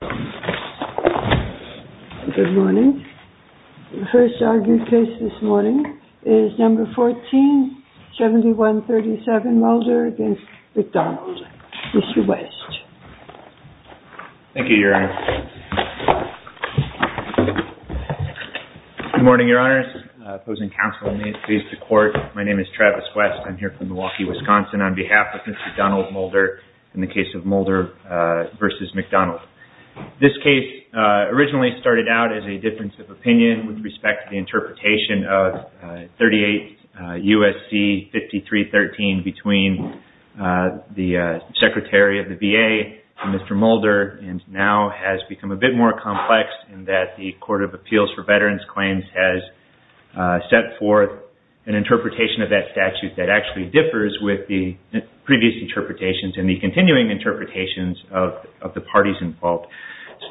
Good morning. The first argued case this morning is No. 14, 7137 Mulder v. McDonald, Mr. West. Thank you, Your Honor. Good morning, Your Honors. Opposing counsel, please to the court. My name is Travis West. I'm here from Milwaukee, Wisconsin on behalf of Mr. Donald Mulder in the case of Mulder v. McDonald. This case originally started out as a difference of opinion with respect to the interpretation of 38 U.S.C. 5313 between the Secretary of the VA and Mr. Mulder and now has become a bit more complex in that the Court of Appeals for Veterans Claims has set forth an interpretation of that statute that actually differs with the previous interpretations and the continuing interpretations of the parties involved.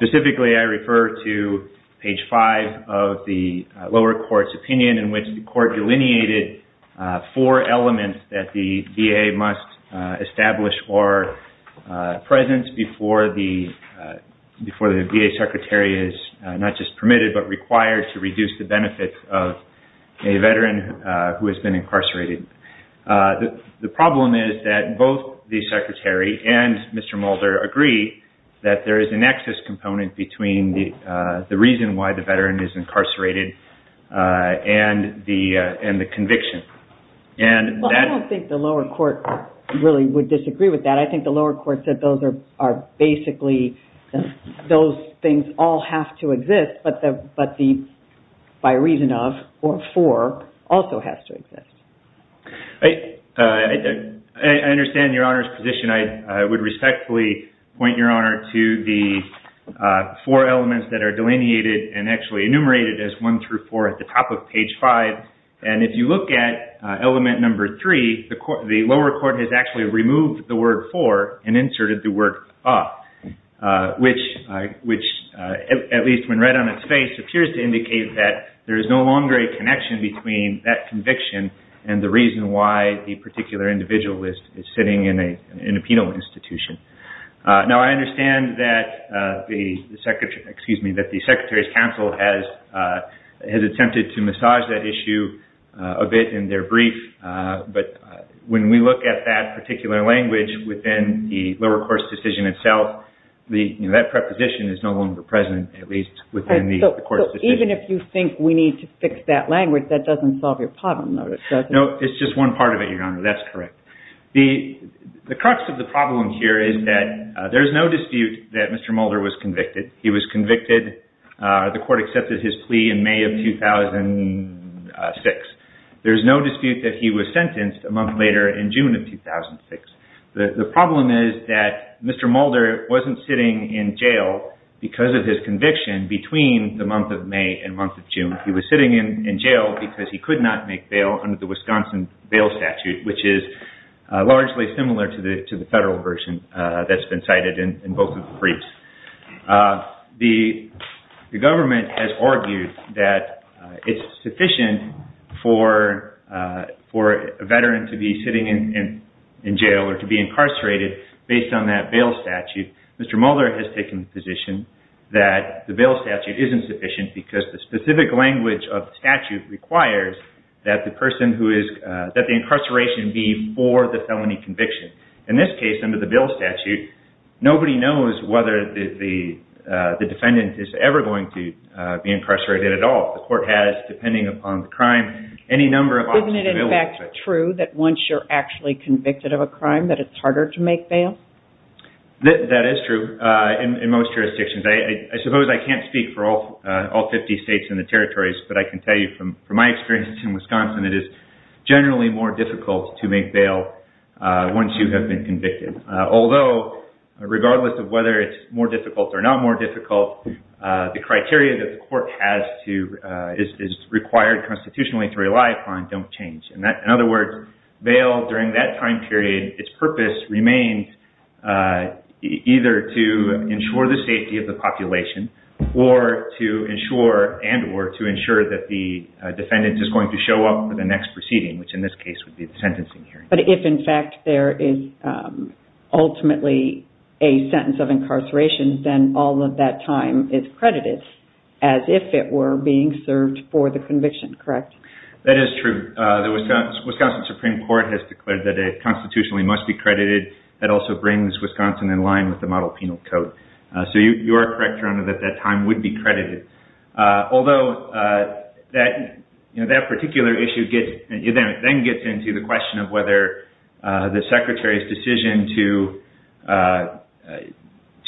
Specifically, I refer to page five of the lower court's opinion in which the court delineated four elements that the VA must establish before the VA Secretary is not just permitted but required to reduce the benefits of a veteran who has been incarcerated. The problem is that both the Secretary and Mr. Mulder agree that there is an excess component between the reason why the veteran is incarcerated and the conviction. I don't think the lower court really would disagree with that. I think the lower court said those things all have to exist but the by reason of or for also has to exist. I understand Your Honor's position. I would respectfully point Your Honor to the four elements that are delineated and actually enumerated as one through four at the top of page five. If you look at element number three, the lower court has actually removed the word for and inserted the word of which at least when read on its face appears to indicate that there is no longer a connection between that conviction and the reason why the particular individual is sitting in a penal institution. Now, I understand that the Secretary's counsel has attempted to massage that issue a bit in their brief but when we look at that particular language within the lower court's decision itself, that preposition is no longer present at least within the court's decision. Even if you think we need to fix that language, that doesn't solve your problem, does it? No, it's just one part of it, Your Honor. That's correct. The crux of the problem here is that there's no dispute that Mr. Mulder was convicted. He was convicted. The court accepted his plea in May of 2006. There's no dispute that he was sentenced a month later in June of 2006. The problem is that Mr. Mulder wasn't sitting in jail because of his conviction between the month of May and month of June. He was sitting in jail because he could not make bail under the Wisconsin bail statute, which is largely similar to the federal version that's been cited in both of the briefs. The government has argued that it's sufficient for a veteran to be sitting in jail or to be incarcerated based on that bail statute. Mr. Mulder has taken the position that the bail statute isn't sufficient because the specific language of the statute requires that the person who is – that the incarceration be for the felony conviction. In this case, under the bail statute, nobody knows whether the defendant is ever going to be incarcerated at all. The court has, depending upon the crime, any number of options available. Isn't it in fact true that once you're actually convicted of a crime that it's harder to make bail? That is true in most jurisdictions. I suppose I can't speak for all 50 states and the territories, but I can tell you from my experience in Wisconsin, it is generally more difficult to make bail once you have been convicted. Although, regardless of whether it's more difficult or not more difficult, the criteria that the court has to – is required constitutionally to rely upon don't change. In other words, bail during that time period, its purpose remains either to ensure the safety of the population or to ensure and or to ensure that the defendant is going to show up for the next proceeding, which in this case would be the sentencing hearing. But if in fact there is ultimately a sentence of incarceration, then all of that time is credited as if it were being served for the conviction, correct? That is true. The Wisconsin Supreme Court has declared that it constitutionally must be credited. That also brings Wisconsin in line with the model penal code. So you are correct, Your Honor, that that time would be credited. Although, that particular issue then gets into the question of whether the Secretary's decision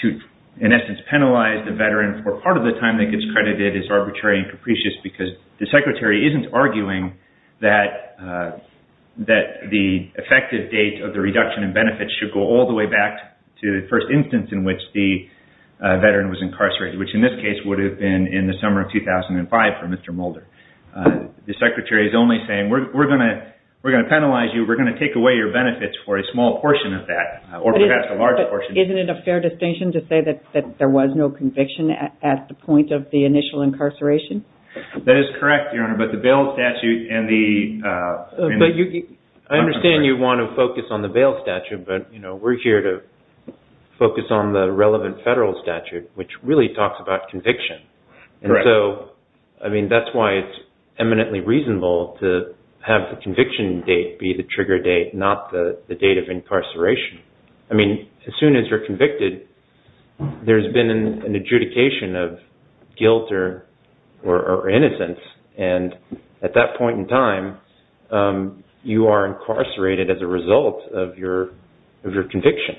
to, in essence, penalize the veteran for part of the time that gets credited is arbitrary and capricious because the Secretary isn't arguing that the effective date of the reduction in benefits should go all the way back to the first instance in which the veteran was incarcerated, which in this case would have been in the summer of 2005 for Mr. Mulder. The Secretary is only saying we're going to penalize you, we're going to take away your benefits for a small portion of that or perhaps a large portion. Isn't it a fair distinction to say that there was no conviction at the point of the initial incarceration? That is correct, Your Honor, but the bail statute and the... I understand you want to focus on the bail statute, but we're here to focus on the relevant federal statute, which really talks about conviction. Correct. And so, I mean, that's why it's eminently reasonable to have the conviction date be the trigger date, not the date of incarceration. I mean, as soon as you're convicted, there's been an adjudication of guilt or innocence, and at that point in time, you are incarcerated as a result of your conviction.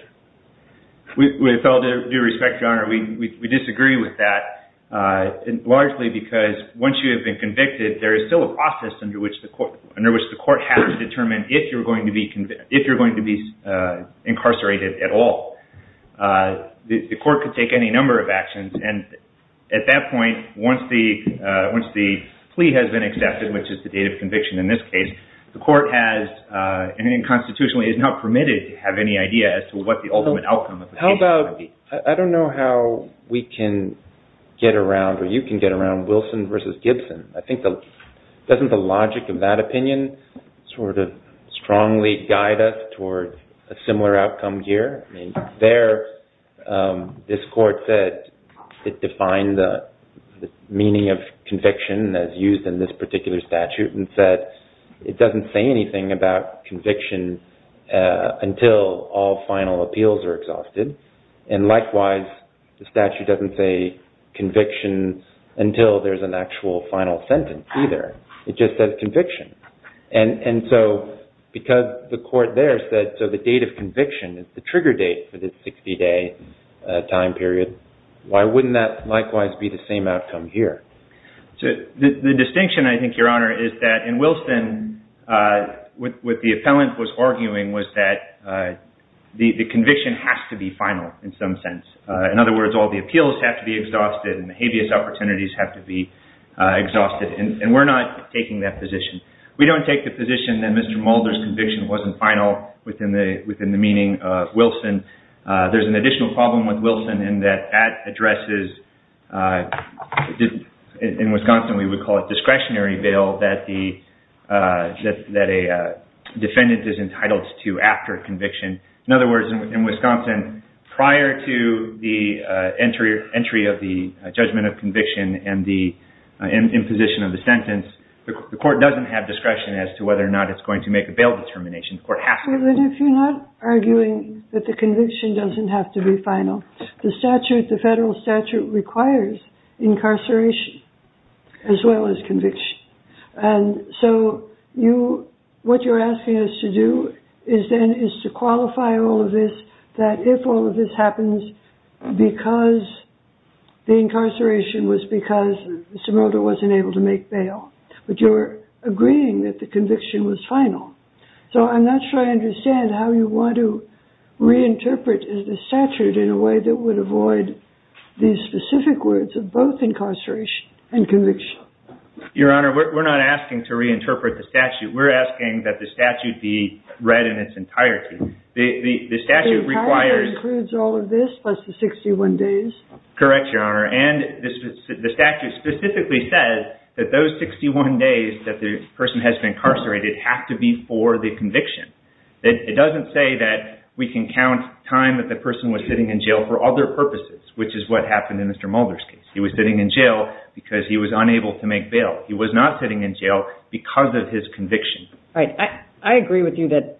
With all due respect, Your Honor, we disagree with that, largely because once you have been convicted, there is still a process under which the court has to determine if you're going to be incarcerated at all. The court could take any number of actions, and at that point, once the plea has been accepted, which is the date of conviction in this case, the court has, and constitutionally, is not permitted to have any idea as to what the ultimate outcome of the case might be. I don't know how we can get around, or you can get around, Wilson versus Gibson. I think, doesn't the logic of that opinion sort of strongly guide us toward a similar outcome here? I mean, there, this court said it defined the meaning of conviction as used in this particular statute, and said it doesn't say anything about conviction until all final appeals are exhausted. And likewise, the statute doesn't say conviction until there's an actual final sentence either. It just says conviction. And so, because the court there said, so the date of conviction is the trigger date for the 60-day time period, why wouldn't that likewise be the same outcome here? The distinction, I think, Your Honor, is that in Wilson, what the appellant was arguing was that the conviction has to be final in some sense. In other words, all the appeals have to be exhausted, and the habeas opportunities have to be exhausted, and we're not taking that position. We don't take the position that Mr. Mulder's conviction wasn't final within the meaning of Wilson. There's an additional problem with Wilson in that that addresses, in Wisconsin, we would call it discretionary bail that a defendant is entitled to after conviction. In other words, in Wisconsin, prior to the entry of the judgment of conviction and the imposition of the sentence, the court doesn't have discretion as to whether or not it's going to make a bail determination. The court has to. But if you're not arguing that the conviction doesn't have to be final, the statute, the federal statute, requires incarceration as well as conviction. And so what you're asking us to do is then is to qualify all of this, that if all of this happens because the incarceration was because Mr. Mulder wasn't able to make bail, but you're agreeing that the conviction was final. So I'm not sure I understand how you want to reinterpret the statute in a way that would avoid these specific words of both incarceration and conviction. Your Honor, we're not asking to reinterpret the statute. We're asking that the statute be read in its entirety. Correct, Your Honor. And the statute specifically says that those 61 days that the person has been incarcerated have to be for the conviction. It doesn't say that we can count time that the person was sitting in jail for other purposes, which is what happened in Mr. Mulder's case. He was sitting in jail because he was unable to make bail. He was not sitting in jail because of his conviction. All right. I agree with you that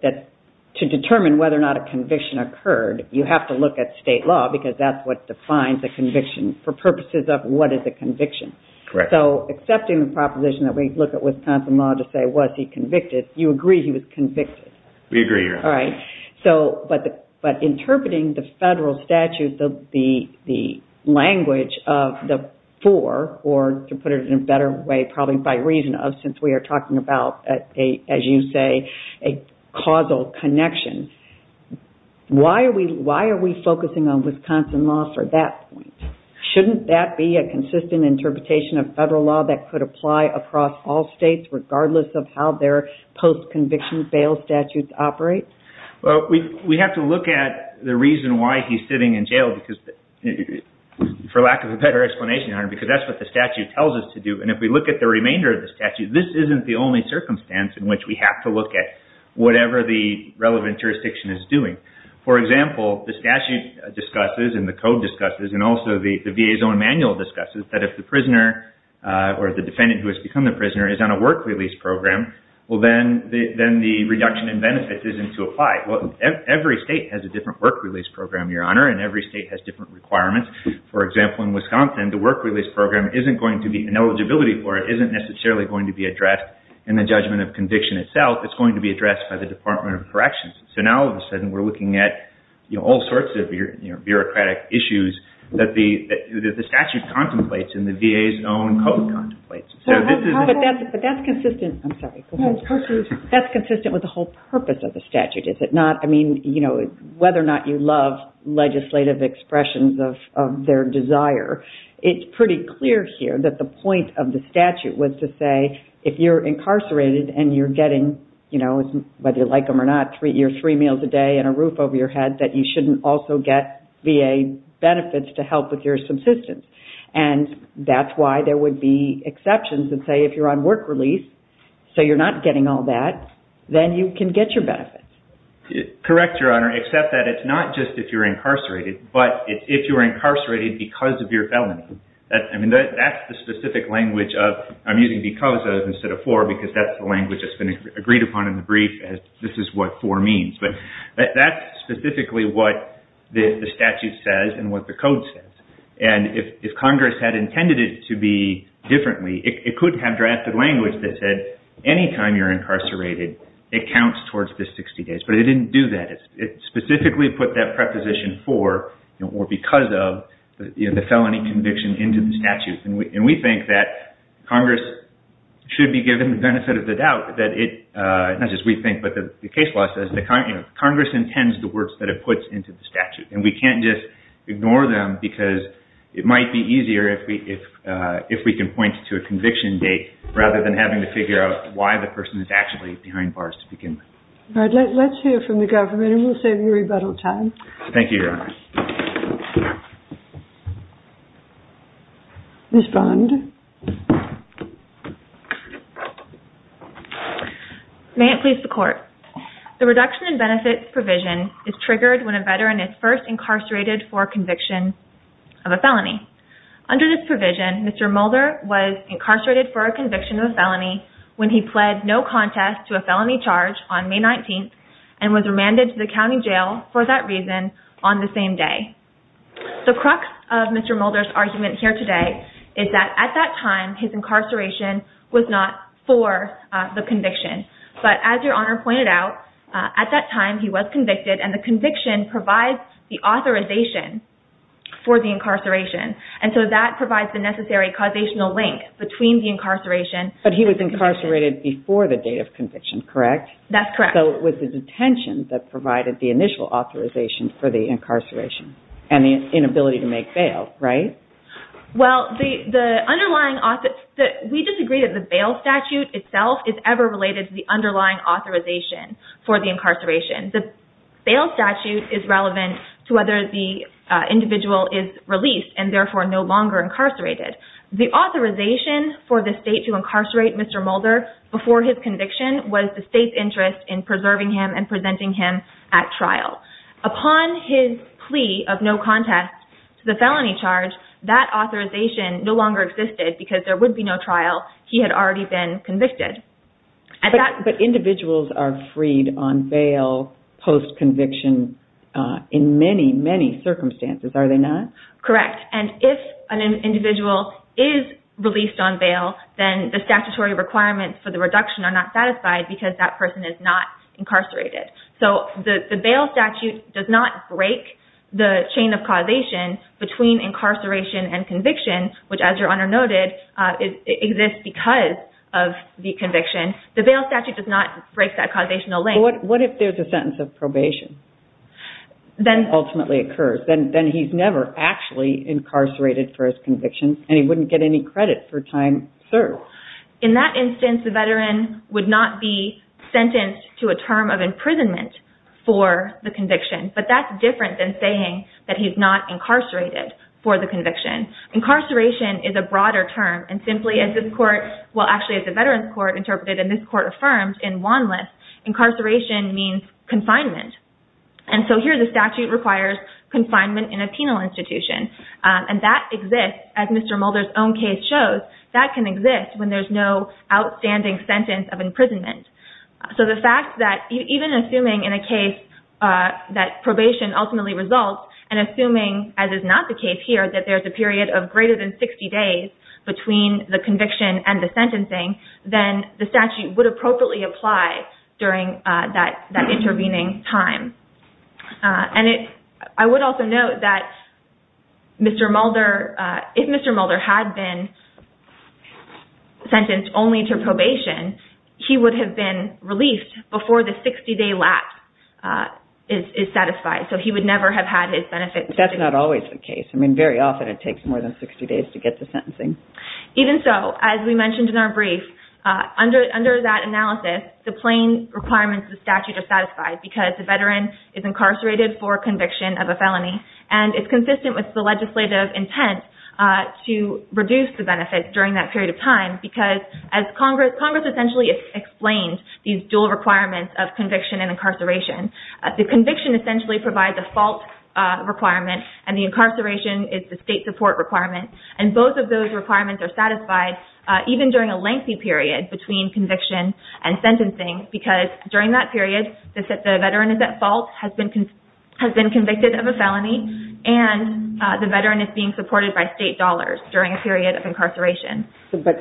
to determine whether or not a conviction occurred, you have to look at state law because that's what defines a conviction for purposes of what is a conviction. Correct. So accepting the proposition that we look at Wisconsin law to say was he convicted, you agree he was convicted. We agree, Your Honor. All right. But interpreting the federal statute, the language of the four, or to put it in a better way probably by reason of since we are talking about, as you say, a causal connection, why are we focusing on Wisconsin law for that point? Shouldn't that be a consistent interpretation of federal law that could apply across all states regardless of how their post-conviction bail statutes operate? Well, we have to look at the reason why he's sitting in jail for lack of a better explanation, Your Honor, because that's what the statute tells us to do. And if we look at the remainder of the statute, this isn't the only circumstance in which we have to look at whatever the relevant jurisdiction is doing. For example, the statute discusses and the code discusses and also the VA's own manual discusses that if the prisoner or the defendant who has become the prisoner is on a work release program, well, then the reduction in benefits isn't to apply. Well, every state has a different work release program, Your Honor, and every state has different requirements. For example, in Wisconsin, the work release program isn't going to be an eligibility for it, isn't necessarily going to be addressed in the judgment of conviction itself. It's going to be addressed by the Department of Corrections. So now, all of a sudden, we're looking at all sorts of bureaucratic issues that the statute contemplates and the VA's own code contemplates. But that's consistent with the whole purpose of the statute, is it not? I mean, whether or not you love legislative expressions of their desire, it's pretty clear here that the point of the statute was to say if you're incarcerated and you're getting, whether you like them or not, three meals a day and a roof over your head, that you shouldn't also get VA benefits to help with your subsistence. And that's why there would be exceptions that say if you're on work release, so you're not getting all that, then you can get your benefits. Correct, Your Honor, except that it's not just if you're incarcerated, but if you're incarcerated because of your felony. I mean, that's the specific language of, I'm using because of instead of for, because that's the language that's been agreed upon in the brief as this is what for means. But that's specifically what the statute says and what the code says. And if Congress had intended it to be differently, it could have drafted language that said, any time you're incarcerated, it counts towards the 60 days. But it didn't do that. It specifically put that preposition for or because of the felony conviction into the statute. And we think that Congress should be given the benefit of the doubt that it, not just we think, but the case law says Congress intends the words that it puts into the statute. And we can't just ignore them because it might be easier if we can point to a conviction date rather than having to figure out why the person is actually behind bars to begin with. All right, let's hear from the government and we'll save you rebuttal time. Thank you, Your Honor. Ms. Bond. May it please the Court. The reduction in benefits provision is triggered when a veteran is first incarcerated for conviction of a felony. Under this provision, Mr. Mulder was incarcerated for a conviction of a felony when he pled no contest to a felony charge on May 19th and was remanded to the county jail for that reason on the same day. The crux of Mr. Mulder's argument here today is that at that time, his incarceration was not for the conviction. But as Your Honor pointed out, at that time, he was convicted and the conviction provides the authorization for the incarceration. And so that provides the necessary causational link between the incarceration But he was incarcerated before the date of conviction, correct? That's correct. So it was the detention that provided the initial authorization for the incarceration and the inability to make bail, right? Well, we disagree that the bail statute itself is ever related to the underlying authorization for the incarceration. The bail statute is relevant to whether the individual is released and therefore no longer incarcerated. The authorization for the state to incarcerate Mr. Mulder before his conviction was the state's interest in preserving him and presenting him at trial. Upon his plea of no contest to the felony charge, that authorization no longer existed because there would be no trial. He had already been convicted. But individuals are freed on bail post-conviction in many, many circumstances, are they not? Correct. And if an individual is released on bail, then the statutory requirements for the reduction are not satisfied because that person is not incarcerated. So the bail statute does not break the chain of causation between incarceration and conviction, which as Your Honor noted, exists because of the conviction. The bail statute does not break that causational link. So what if there's a sentence of probation that ultimately occurs? Then he's never actually incarcerated for his conviction and he wouldn't get any credit for time served. In that instance, the veteran would not be sentenced to a term of imprisonment for the conviction. But that's different than saying that he's not incarcerated for the conviction. Incarceration is a broader term. And simply as the Veterans Court interpreted and this court affirmed in Wanlis, incarceration means confinement. And so here the statute requires confinement in a penal institution. And that exists, as Mr. Mulder's own case shows, that can exist when there's no outstanding sentence of imprisonment. So the fact that even assuming in a case that probation ultimately results and assuming, as is not the case here, that there's a period of greater than 60 days between the conviction and the sentencing, then the statute would appropriately apply during that intervening time. And I would also note that if Mr. Mulder had been sentenced only to probation, he would have been released before the 60-day lapse is satisfied. So he would never have had his benefits. But that's not always the case. I mean, very often it takes more than 60 days to get to sentencing. Even so, as we mentioned in our brief, under that analysis, the plain requirements of the statute are satisfied because the veteran is incarcerated for conviction of a felony. And it's consistent with the legislative intent to reduce the benefits during that period of time because as Congress essentially explained these dual requirements of conviction and incarceration, the conviction essentially provides a fault requirement and the incarceration is the state support requirement. And both of those requirements are satisfied even during a lengthy period between conviction and sentencing because during that period, the veteran is at fault, has been convicted of a felony, and the veteran is being supported by state dollars during a period of incarceration.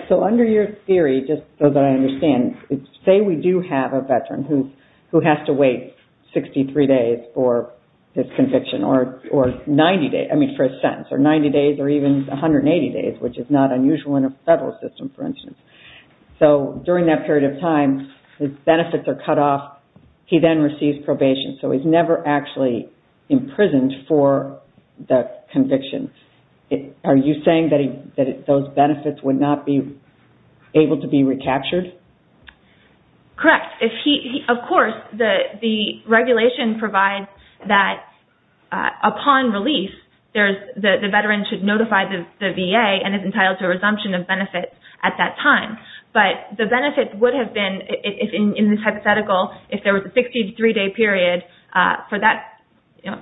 So under your theory, just so that I understand, say we do have a veteran who has to wait 63 days for his conviction or 90 days, I mean, for his sentence, or 90 days or even 180 days, which is not unusual in a federal system, for instance. So during that period of time, his benefits are cut off. He then receives probation, so he's never actually imprisoned for the conviction. Are you saying that those benefits would not be able to be recaptured? Correct. Of course, the regulation provides that upon release, the veteran should notify the VA and is entitled to a resumption of benefits at that time. But the benefit would have been, in this hypothetical, if there was a 63-day period, for the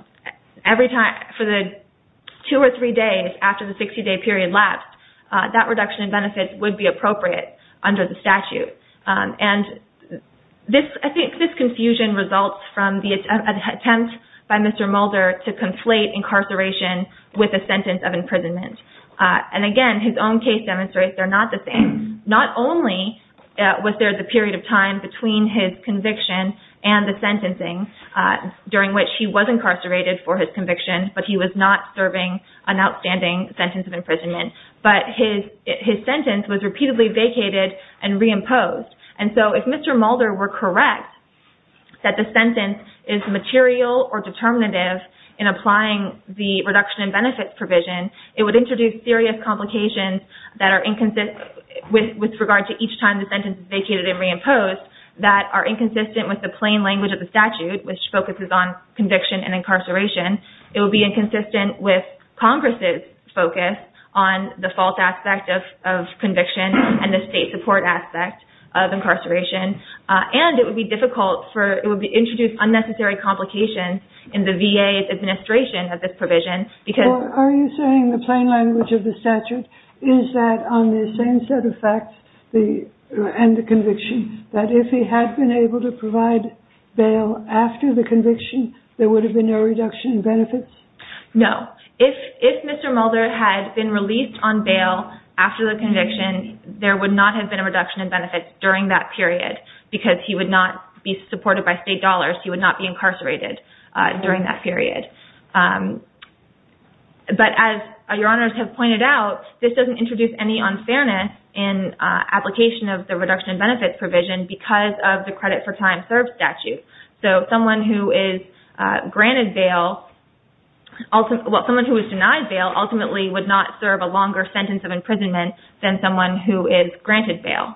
two or three days after the 63-day period left, that reduction in benefits would be appropriate under the statute. And I think this confusion results from the attempt by Mr. Mulder to conflate incarceration with a sentence of imprisonment. And again, his own case demonstrates they're not the same. Not only was there the period of time between his conviction and the sentencing during which he was incarcerated for his conviction, but he was not serving an outstanding sentence of imprisonment. But his sentence was repeatedly vacated and reimposed. And so if Mr. Mulder were correct that the sentence is material or determinative in applying the reduction in benefits provision, it would introduce serious complications with regard to each time the sentence is vacated and reimposed that are inconsistent with the plain language of the statute, which focuses on conviction and incarceration. It would be inconsistent with Congress' focus on the false aspect of conviction and the state support aspect of incarceration. And it would introduce unnecessary complications in the VA's administration of this provision. Are you saying the plain language of the statute is that on the same set of facts and the conviction, that if he had been able to provide bail after the conviction, there would have been no reduction in benefits? No. If Mr. Mulder had been released on bail after the conviction, there would not have been a reduction in benefits during that period because he would not be supported by state dollars. He would not be incarcerated during that period. But as Your Honors have pointed out, this doesn't introduce any unfairness in application of the reduction in benefits provision because of the credit for time served statute. So someone who is granted bail, someone who is denied bail ultimately would not serve a longer sentence of imprisonment than someone who is granted bail.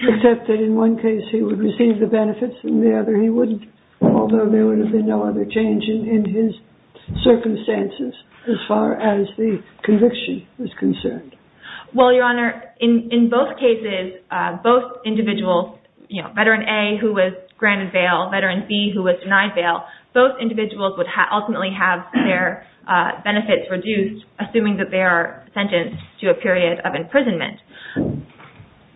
Except that in one case he would receive the benefits and in the other he wouldn't, although there would have been no other change in his circumstances as far as the conviction was concerned. Well, Your Honor, in both cases, Veteran A who was granted bail, Veteran B who was denied bail, both individuals would ultimately have their benefits reduced assuming that they are sentenced to a period of imprisonment.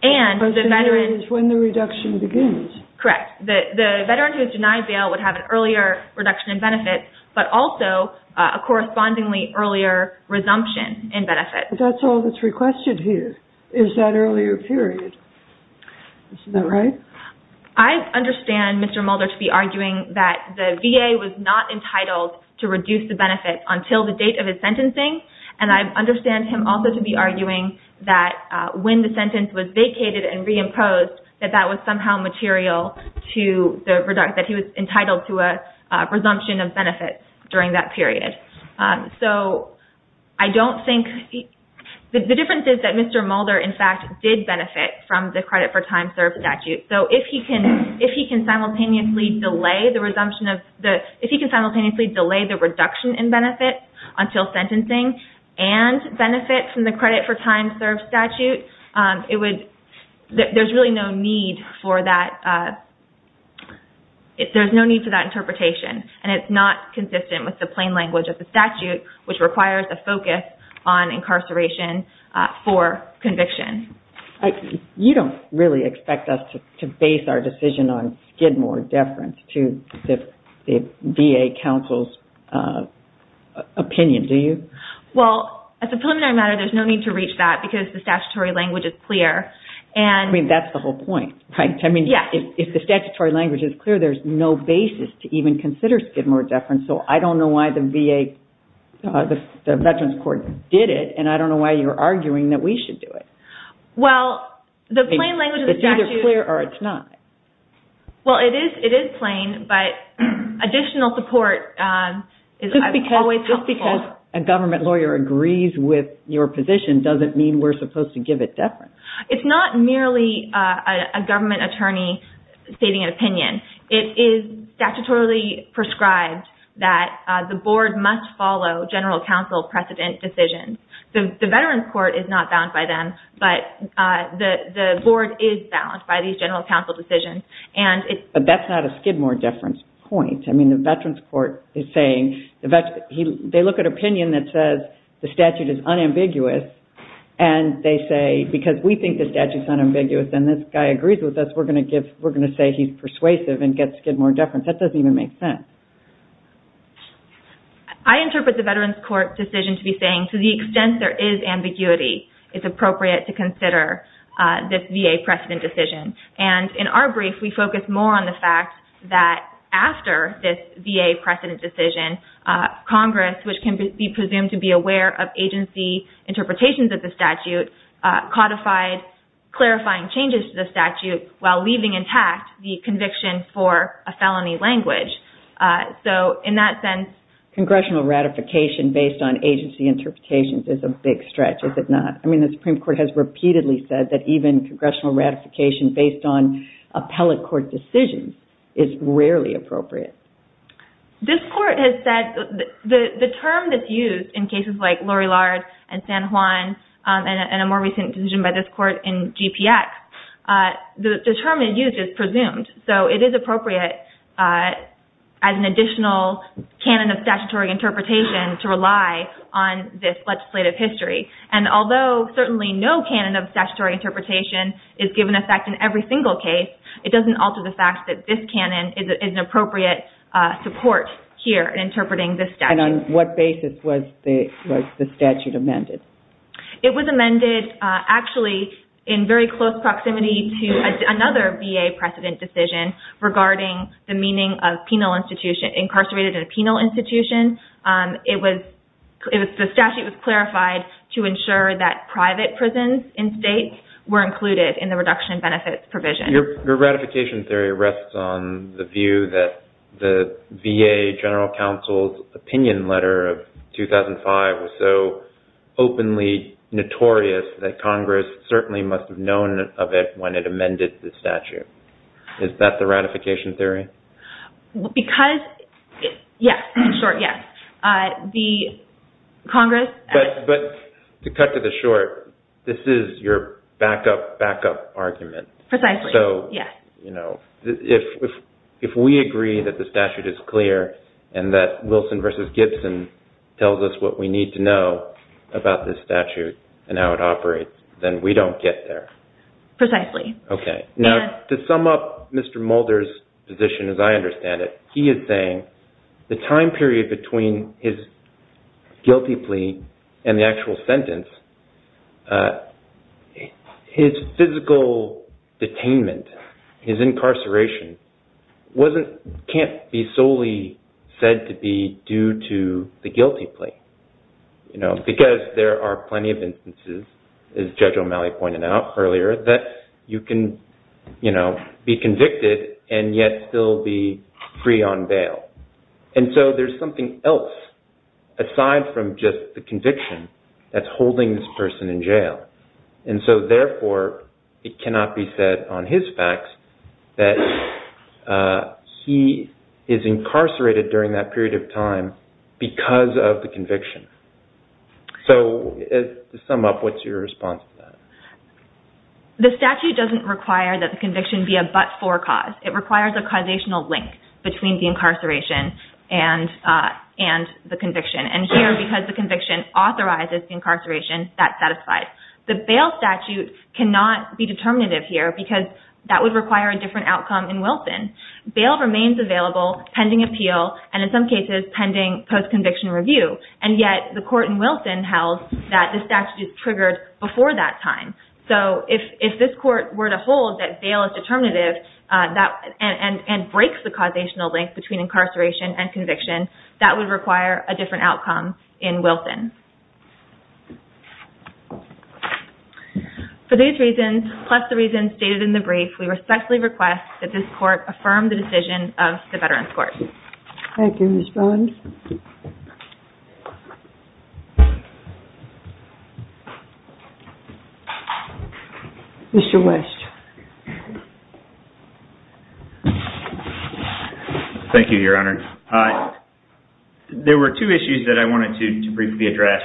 And the veteran... When the reduction begins. Correct. The veteran who is denied bail would have an earlier reduction in benefits but also a correspondingly earlier resumption in benefits. But that's all that's requested here is that earlier period. Isn't that right? I understand Mr. Mulder to be arguing that the VA was not entitled to reduce the benefits until the date of his sentencing. And I understand him also to be arguing that when the sentence was vacated and reimposed, that that was somehow material to the reduction, that he was entitled to a resumption of benefits during that period. So I don't think... The difference is that Mr. Mulder, in fact, did benefit from the credit for time served statute. So if he can simultaneously delay the resumption of... If he can simultaneously delay the reduction in benefits until sentencing and benefit from the credit for time served statute, it would... There's really no need for that... There's no need for that interpretation. And it's not consistent with the plain language of the statute which requires a focus on incarceration for conviction. You don't really expect us to base our decision on Skidmore deference to the VA counsel's opinion, do you? Well, as a preliminary matter, there's no need to reach that because the statutory language is clear and... I mean, that's the whole point, right? I mean, if the statutory language is clear, there's no basis to even consider Skidmore deference. So I don't know why the VA, the Veterans Court did it and I don't know why you're arguing that we should do it. Well, the plain language of the statute... It's either clear or it's not. Well, it is plain, but additional support is always helpful. Just because a government lawyer agrees with your position doesn't mean we're supposed to give it deference. It's not merely a government attorney stating an opinion. It is statutorily prescribed that the board must follow general counsel precedent decisions. The Veterans Court is not bound by them, but the board is bound by these general counsel decisions. But that's not a Skidmore deference point. I mean, the Veterans Court is saying... They look at opinion that says the statute is unambiguous and they say, because we think the statute's unambiguous and this guy agrees with us, we're going to say he's persuasive and get Skidmore deference. That doesn't even make sense. I interpret the Veterans Court decision to be saying to the extent there is ambiguity, it's appropriate to consider this VA precedent decision. And in our brief, we focus more on the fact that after this VA precedent decision, Congress, which can be presumed to be aware of agency interpretations of the statute, codified clarifying changes to the statute while leaving intact the conviction for a felony language. So in that sense... Congressional ratification based on agency interpretations is a big stretch, is it not? I mean, the Supreme Court has repeatedly said that even congressional ratification based on appellate court decisions is rarely appropriate. This court has said... The term that's used in cases like Lori Lard and San Juan and a more recent decision by this court in GPX, the term they used is presumed. So it is appropriate as an additional canon of statutory interpretation to rely on this legislative history. And although certainly no canon of statutory interpretation is given effect in every single case, it doesn't alter the fact that this canon is an appropriate support here in interpreting this statute. And on what basis was the statute amended? It was amended actually in very close proximity to another VA precedent decision regarding the meaning of penal institution... incarcerated in a penal institution. It was... The statute was clarified to ensure that private prisons in states were included in the reduction benefits provision. Your ratification theory rests on the view that the VA General Counsel's opinion letter of 2005 was so openly notorious that Congress certainly must have known of it when it amended the statute. Is that the ratification theory? Because... Yes, in short, yes. The Congress... But to cut to the short, this is your back-up, back-up argument. Precisely, yes. So, you know, if we agree that the statute is clear and that Wilson v. Gibson tells us what we need to know about this statute and how it operates, then we don't get there. Precisely. Okay. Now, to sum up Mr. Mulder's position as I understand it, he is saying the time period between his guilty plea and the actual sentence, his physical detainment, his incarceration, can't be solely said to be due to the guilty plea. You know, because there are plenty of instances, as Judge O'Malley pointed out earlier, that you can, you know, be convicted and yet still be free on bail. And so there's something else aside from just the conviction that's holding this person in jail. And so, therefore, it cannot be said on his facts that he is incarcerated during that period of time because of the conviction. So, to sum up, what's your response to that? The statute doesn't require that the conviction be a but-for cause. It requires a causational link between the incarceration and the conviction. And here, because the conviction authorizes the incarceration, that satisfies. The bail statute cannot be determinative here because that would require a different outcome in Wilson. Bail remains available pending appeal and, in some cases, pending post-conviction review. And yet, the court in Wilson held that the statute is triggered before that time. So, if this court were to hold that bail is determinative and breaks the causational link between incarceration and conviction, that would require a different outcome in Wilson. For these reasons, plus the reasons stated in the brief, we respectfully request that this court affirm the decision of the Veterans Court. Thank you, Ms. Bond. Mr. West. Thank you, Your Honor. There were two issues that I wanted to briefly address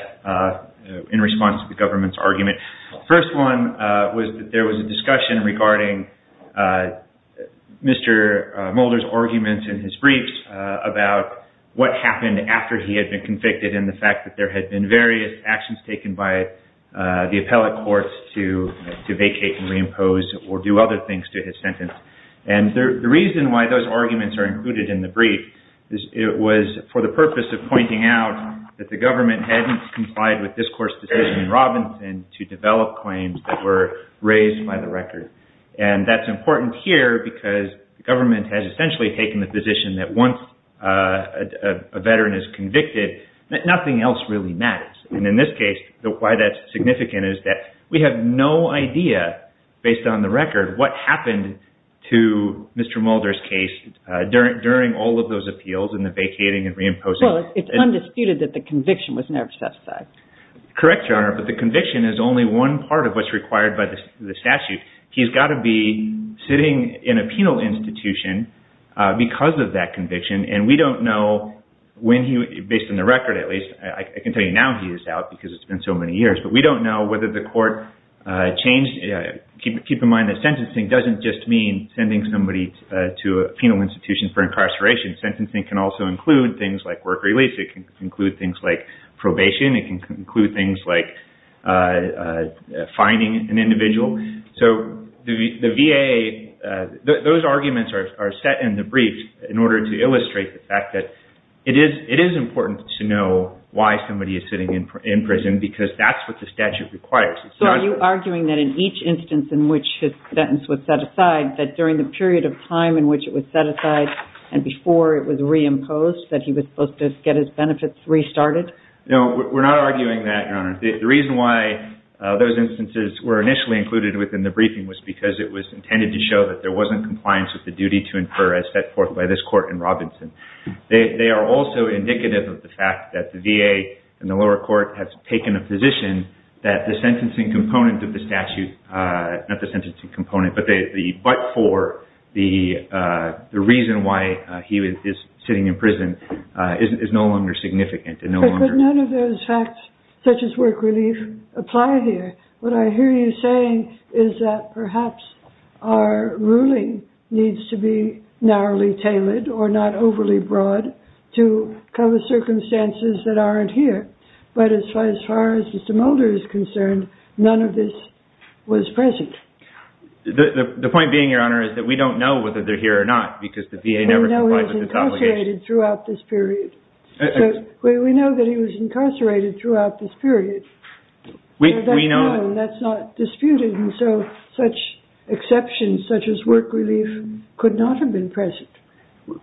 in response to the government's argument. The first one was that there was a discussion regarding Mr. Mulder's arguments in his brief about what happened after he had been convicted and the fact that there had been various actions taken by the appellate courts to vacate and reimpose or do other things to his sentence. And the reason why those arguments are included in the brief was for the purpose of pointing out that the government hadn't complied with this court's decision in Robinson to develop claims that were raised by the record. And that's important here because the government has essentially taken the position that once a veteran is convicted, nothing else really matters. And in this case, why that's significant is that we have no idea, based on the record, what happened to Mr. Mulder's case during all of those appeals and the vacating and reimposing. Well, it's undisputed that the conviction was never set aside. Correct, Your Honor, but the conviction is only one part of what's required by the statute. He's got to be sitting in a penal institution because of that conviction, and we don't know when he, based on the record at least, I can tell you now he is out because it's been so many years, but we don't know whether the court changed, keep in mind that sentencing doesn't just mean sending somebody to a penal institution for incarceration. Sentencing can also include things like work release. It can include things like probation. It can include things like fining an individual. So the VA, those arguments are set in the brief in order to illustrate the fact that it is important to know why somebody is sitting in prison because that's what the statute requires. So are you arguing that in each instance in which his sentence was set aside, that during the period of time in which it was set aside and before it was reimposed, that he was supposed to get his benefits restarted? No, we're not arguing that, Your Honor. The reason why those instances were initially included within the briefing was because it was intended to show that there wasn't compliance with the duty to infer as set forth by this court in Robinson. They are also indicative of the fact that the VA in the lower court has taken a position that the sentencing component of the statute, not the sentencing component, but for the reason why he is sitting in prison is no longer significant. But none of those facts, such as work relief, apply here. What I hear you saying is that perhaps our ruling needs to be narrowly tailored or not overly broad to cover circumstances that aren't here. But as far as Mr. Mulder is concerned, none of this was present. The point being, Your Honor, is that we don't know whether they're here or not because the VA never complied with its obligation. We know he was incarcerated throughout this period. We know that he was incarcerated throughout this period. That's known. That's not disputed. And so such exceptions, such as work relief, could not have been present.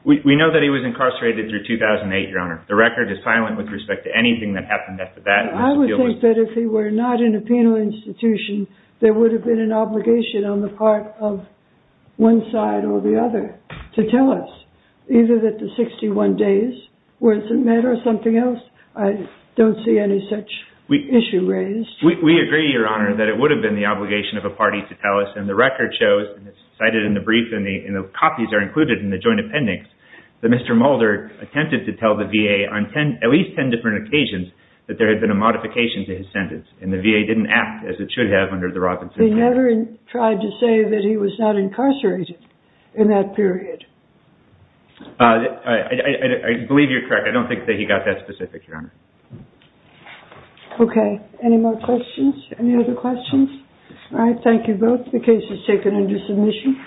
We know that he was incarcerated through 2008, Your Honor. The record is silent with respect to anything that happened after that. I would think that if he were not in a penal institution, there would have been an obligation on the part of one side or the other to tell us, either that the 61 days were met or something else. I don't see any such issue raised. We agree, Your Honor, that it would have been the obligation of a party to tell us. And the record shows, and it's cited in the brief, and the copies are included in the joint appendix, that Mr. Mulder attempted to tell the VA on at least 10 different occasions that there had been a modification to his sentence. And the VA didn't act as it should have under the Robinson Act. They never tried to say that he was not incarcerated in that period. I believe you're correct. I don't think that he got that specific, Your Honor. Okay. Any more questions? Any other questions? All right. Thank you both. The case is taken under submission.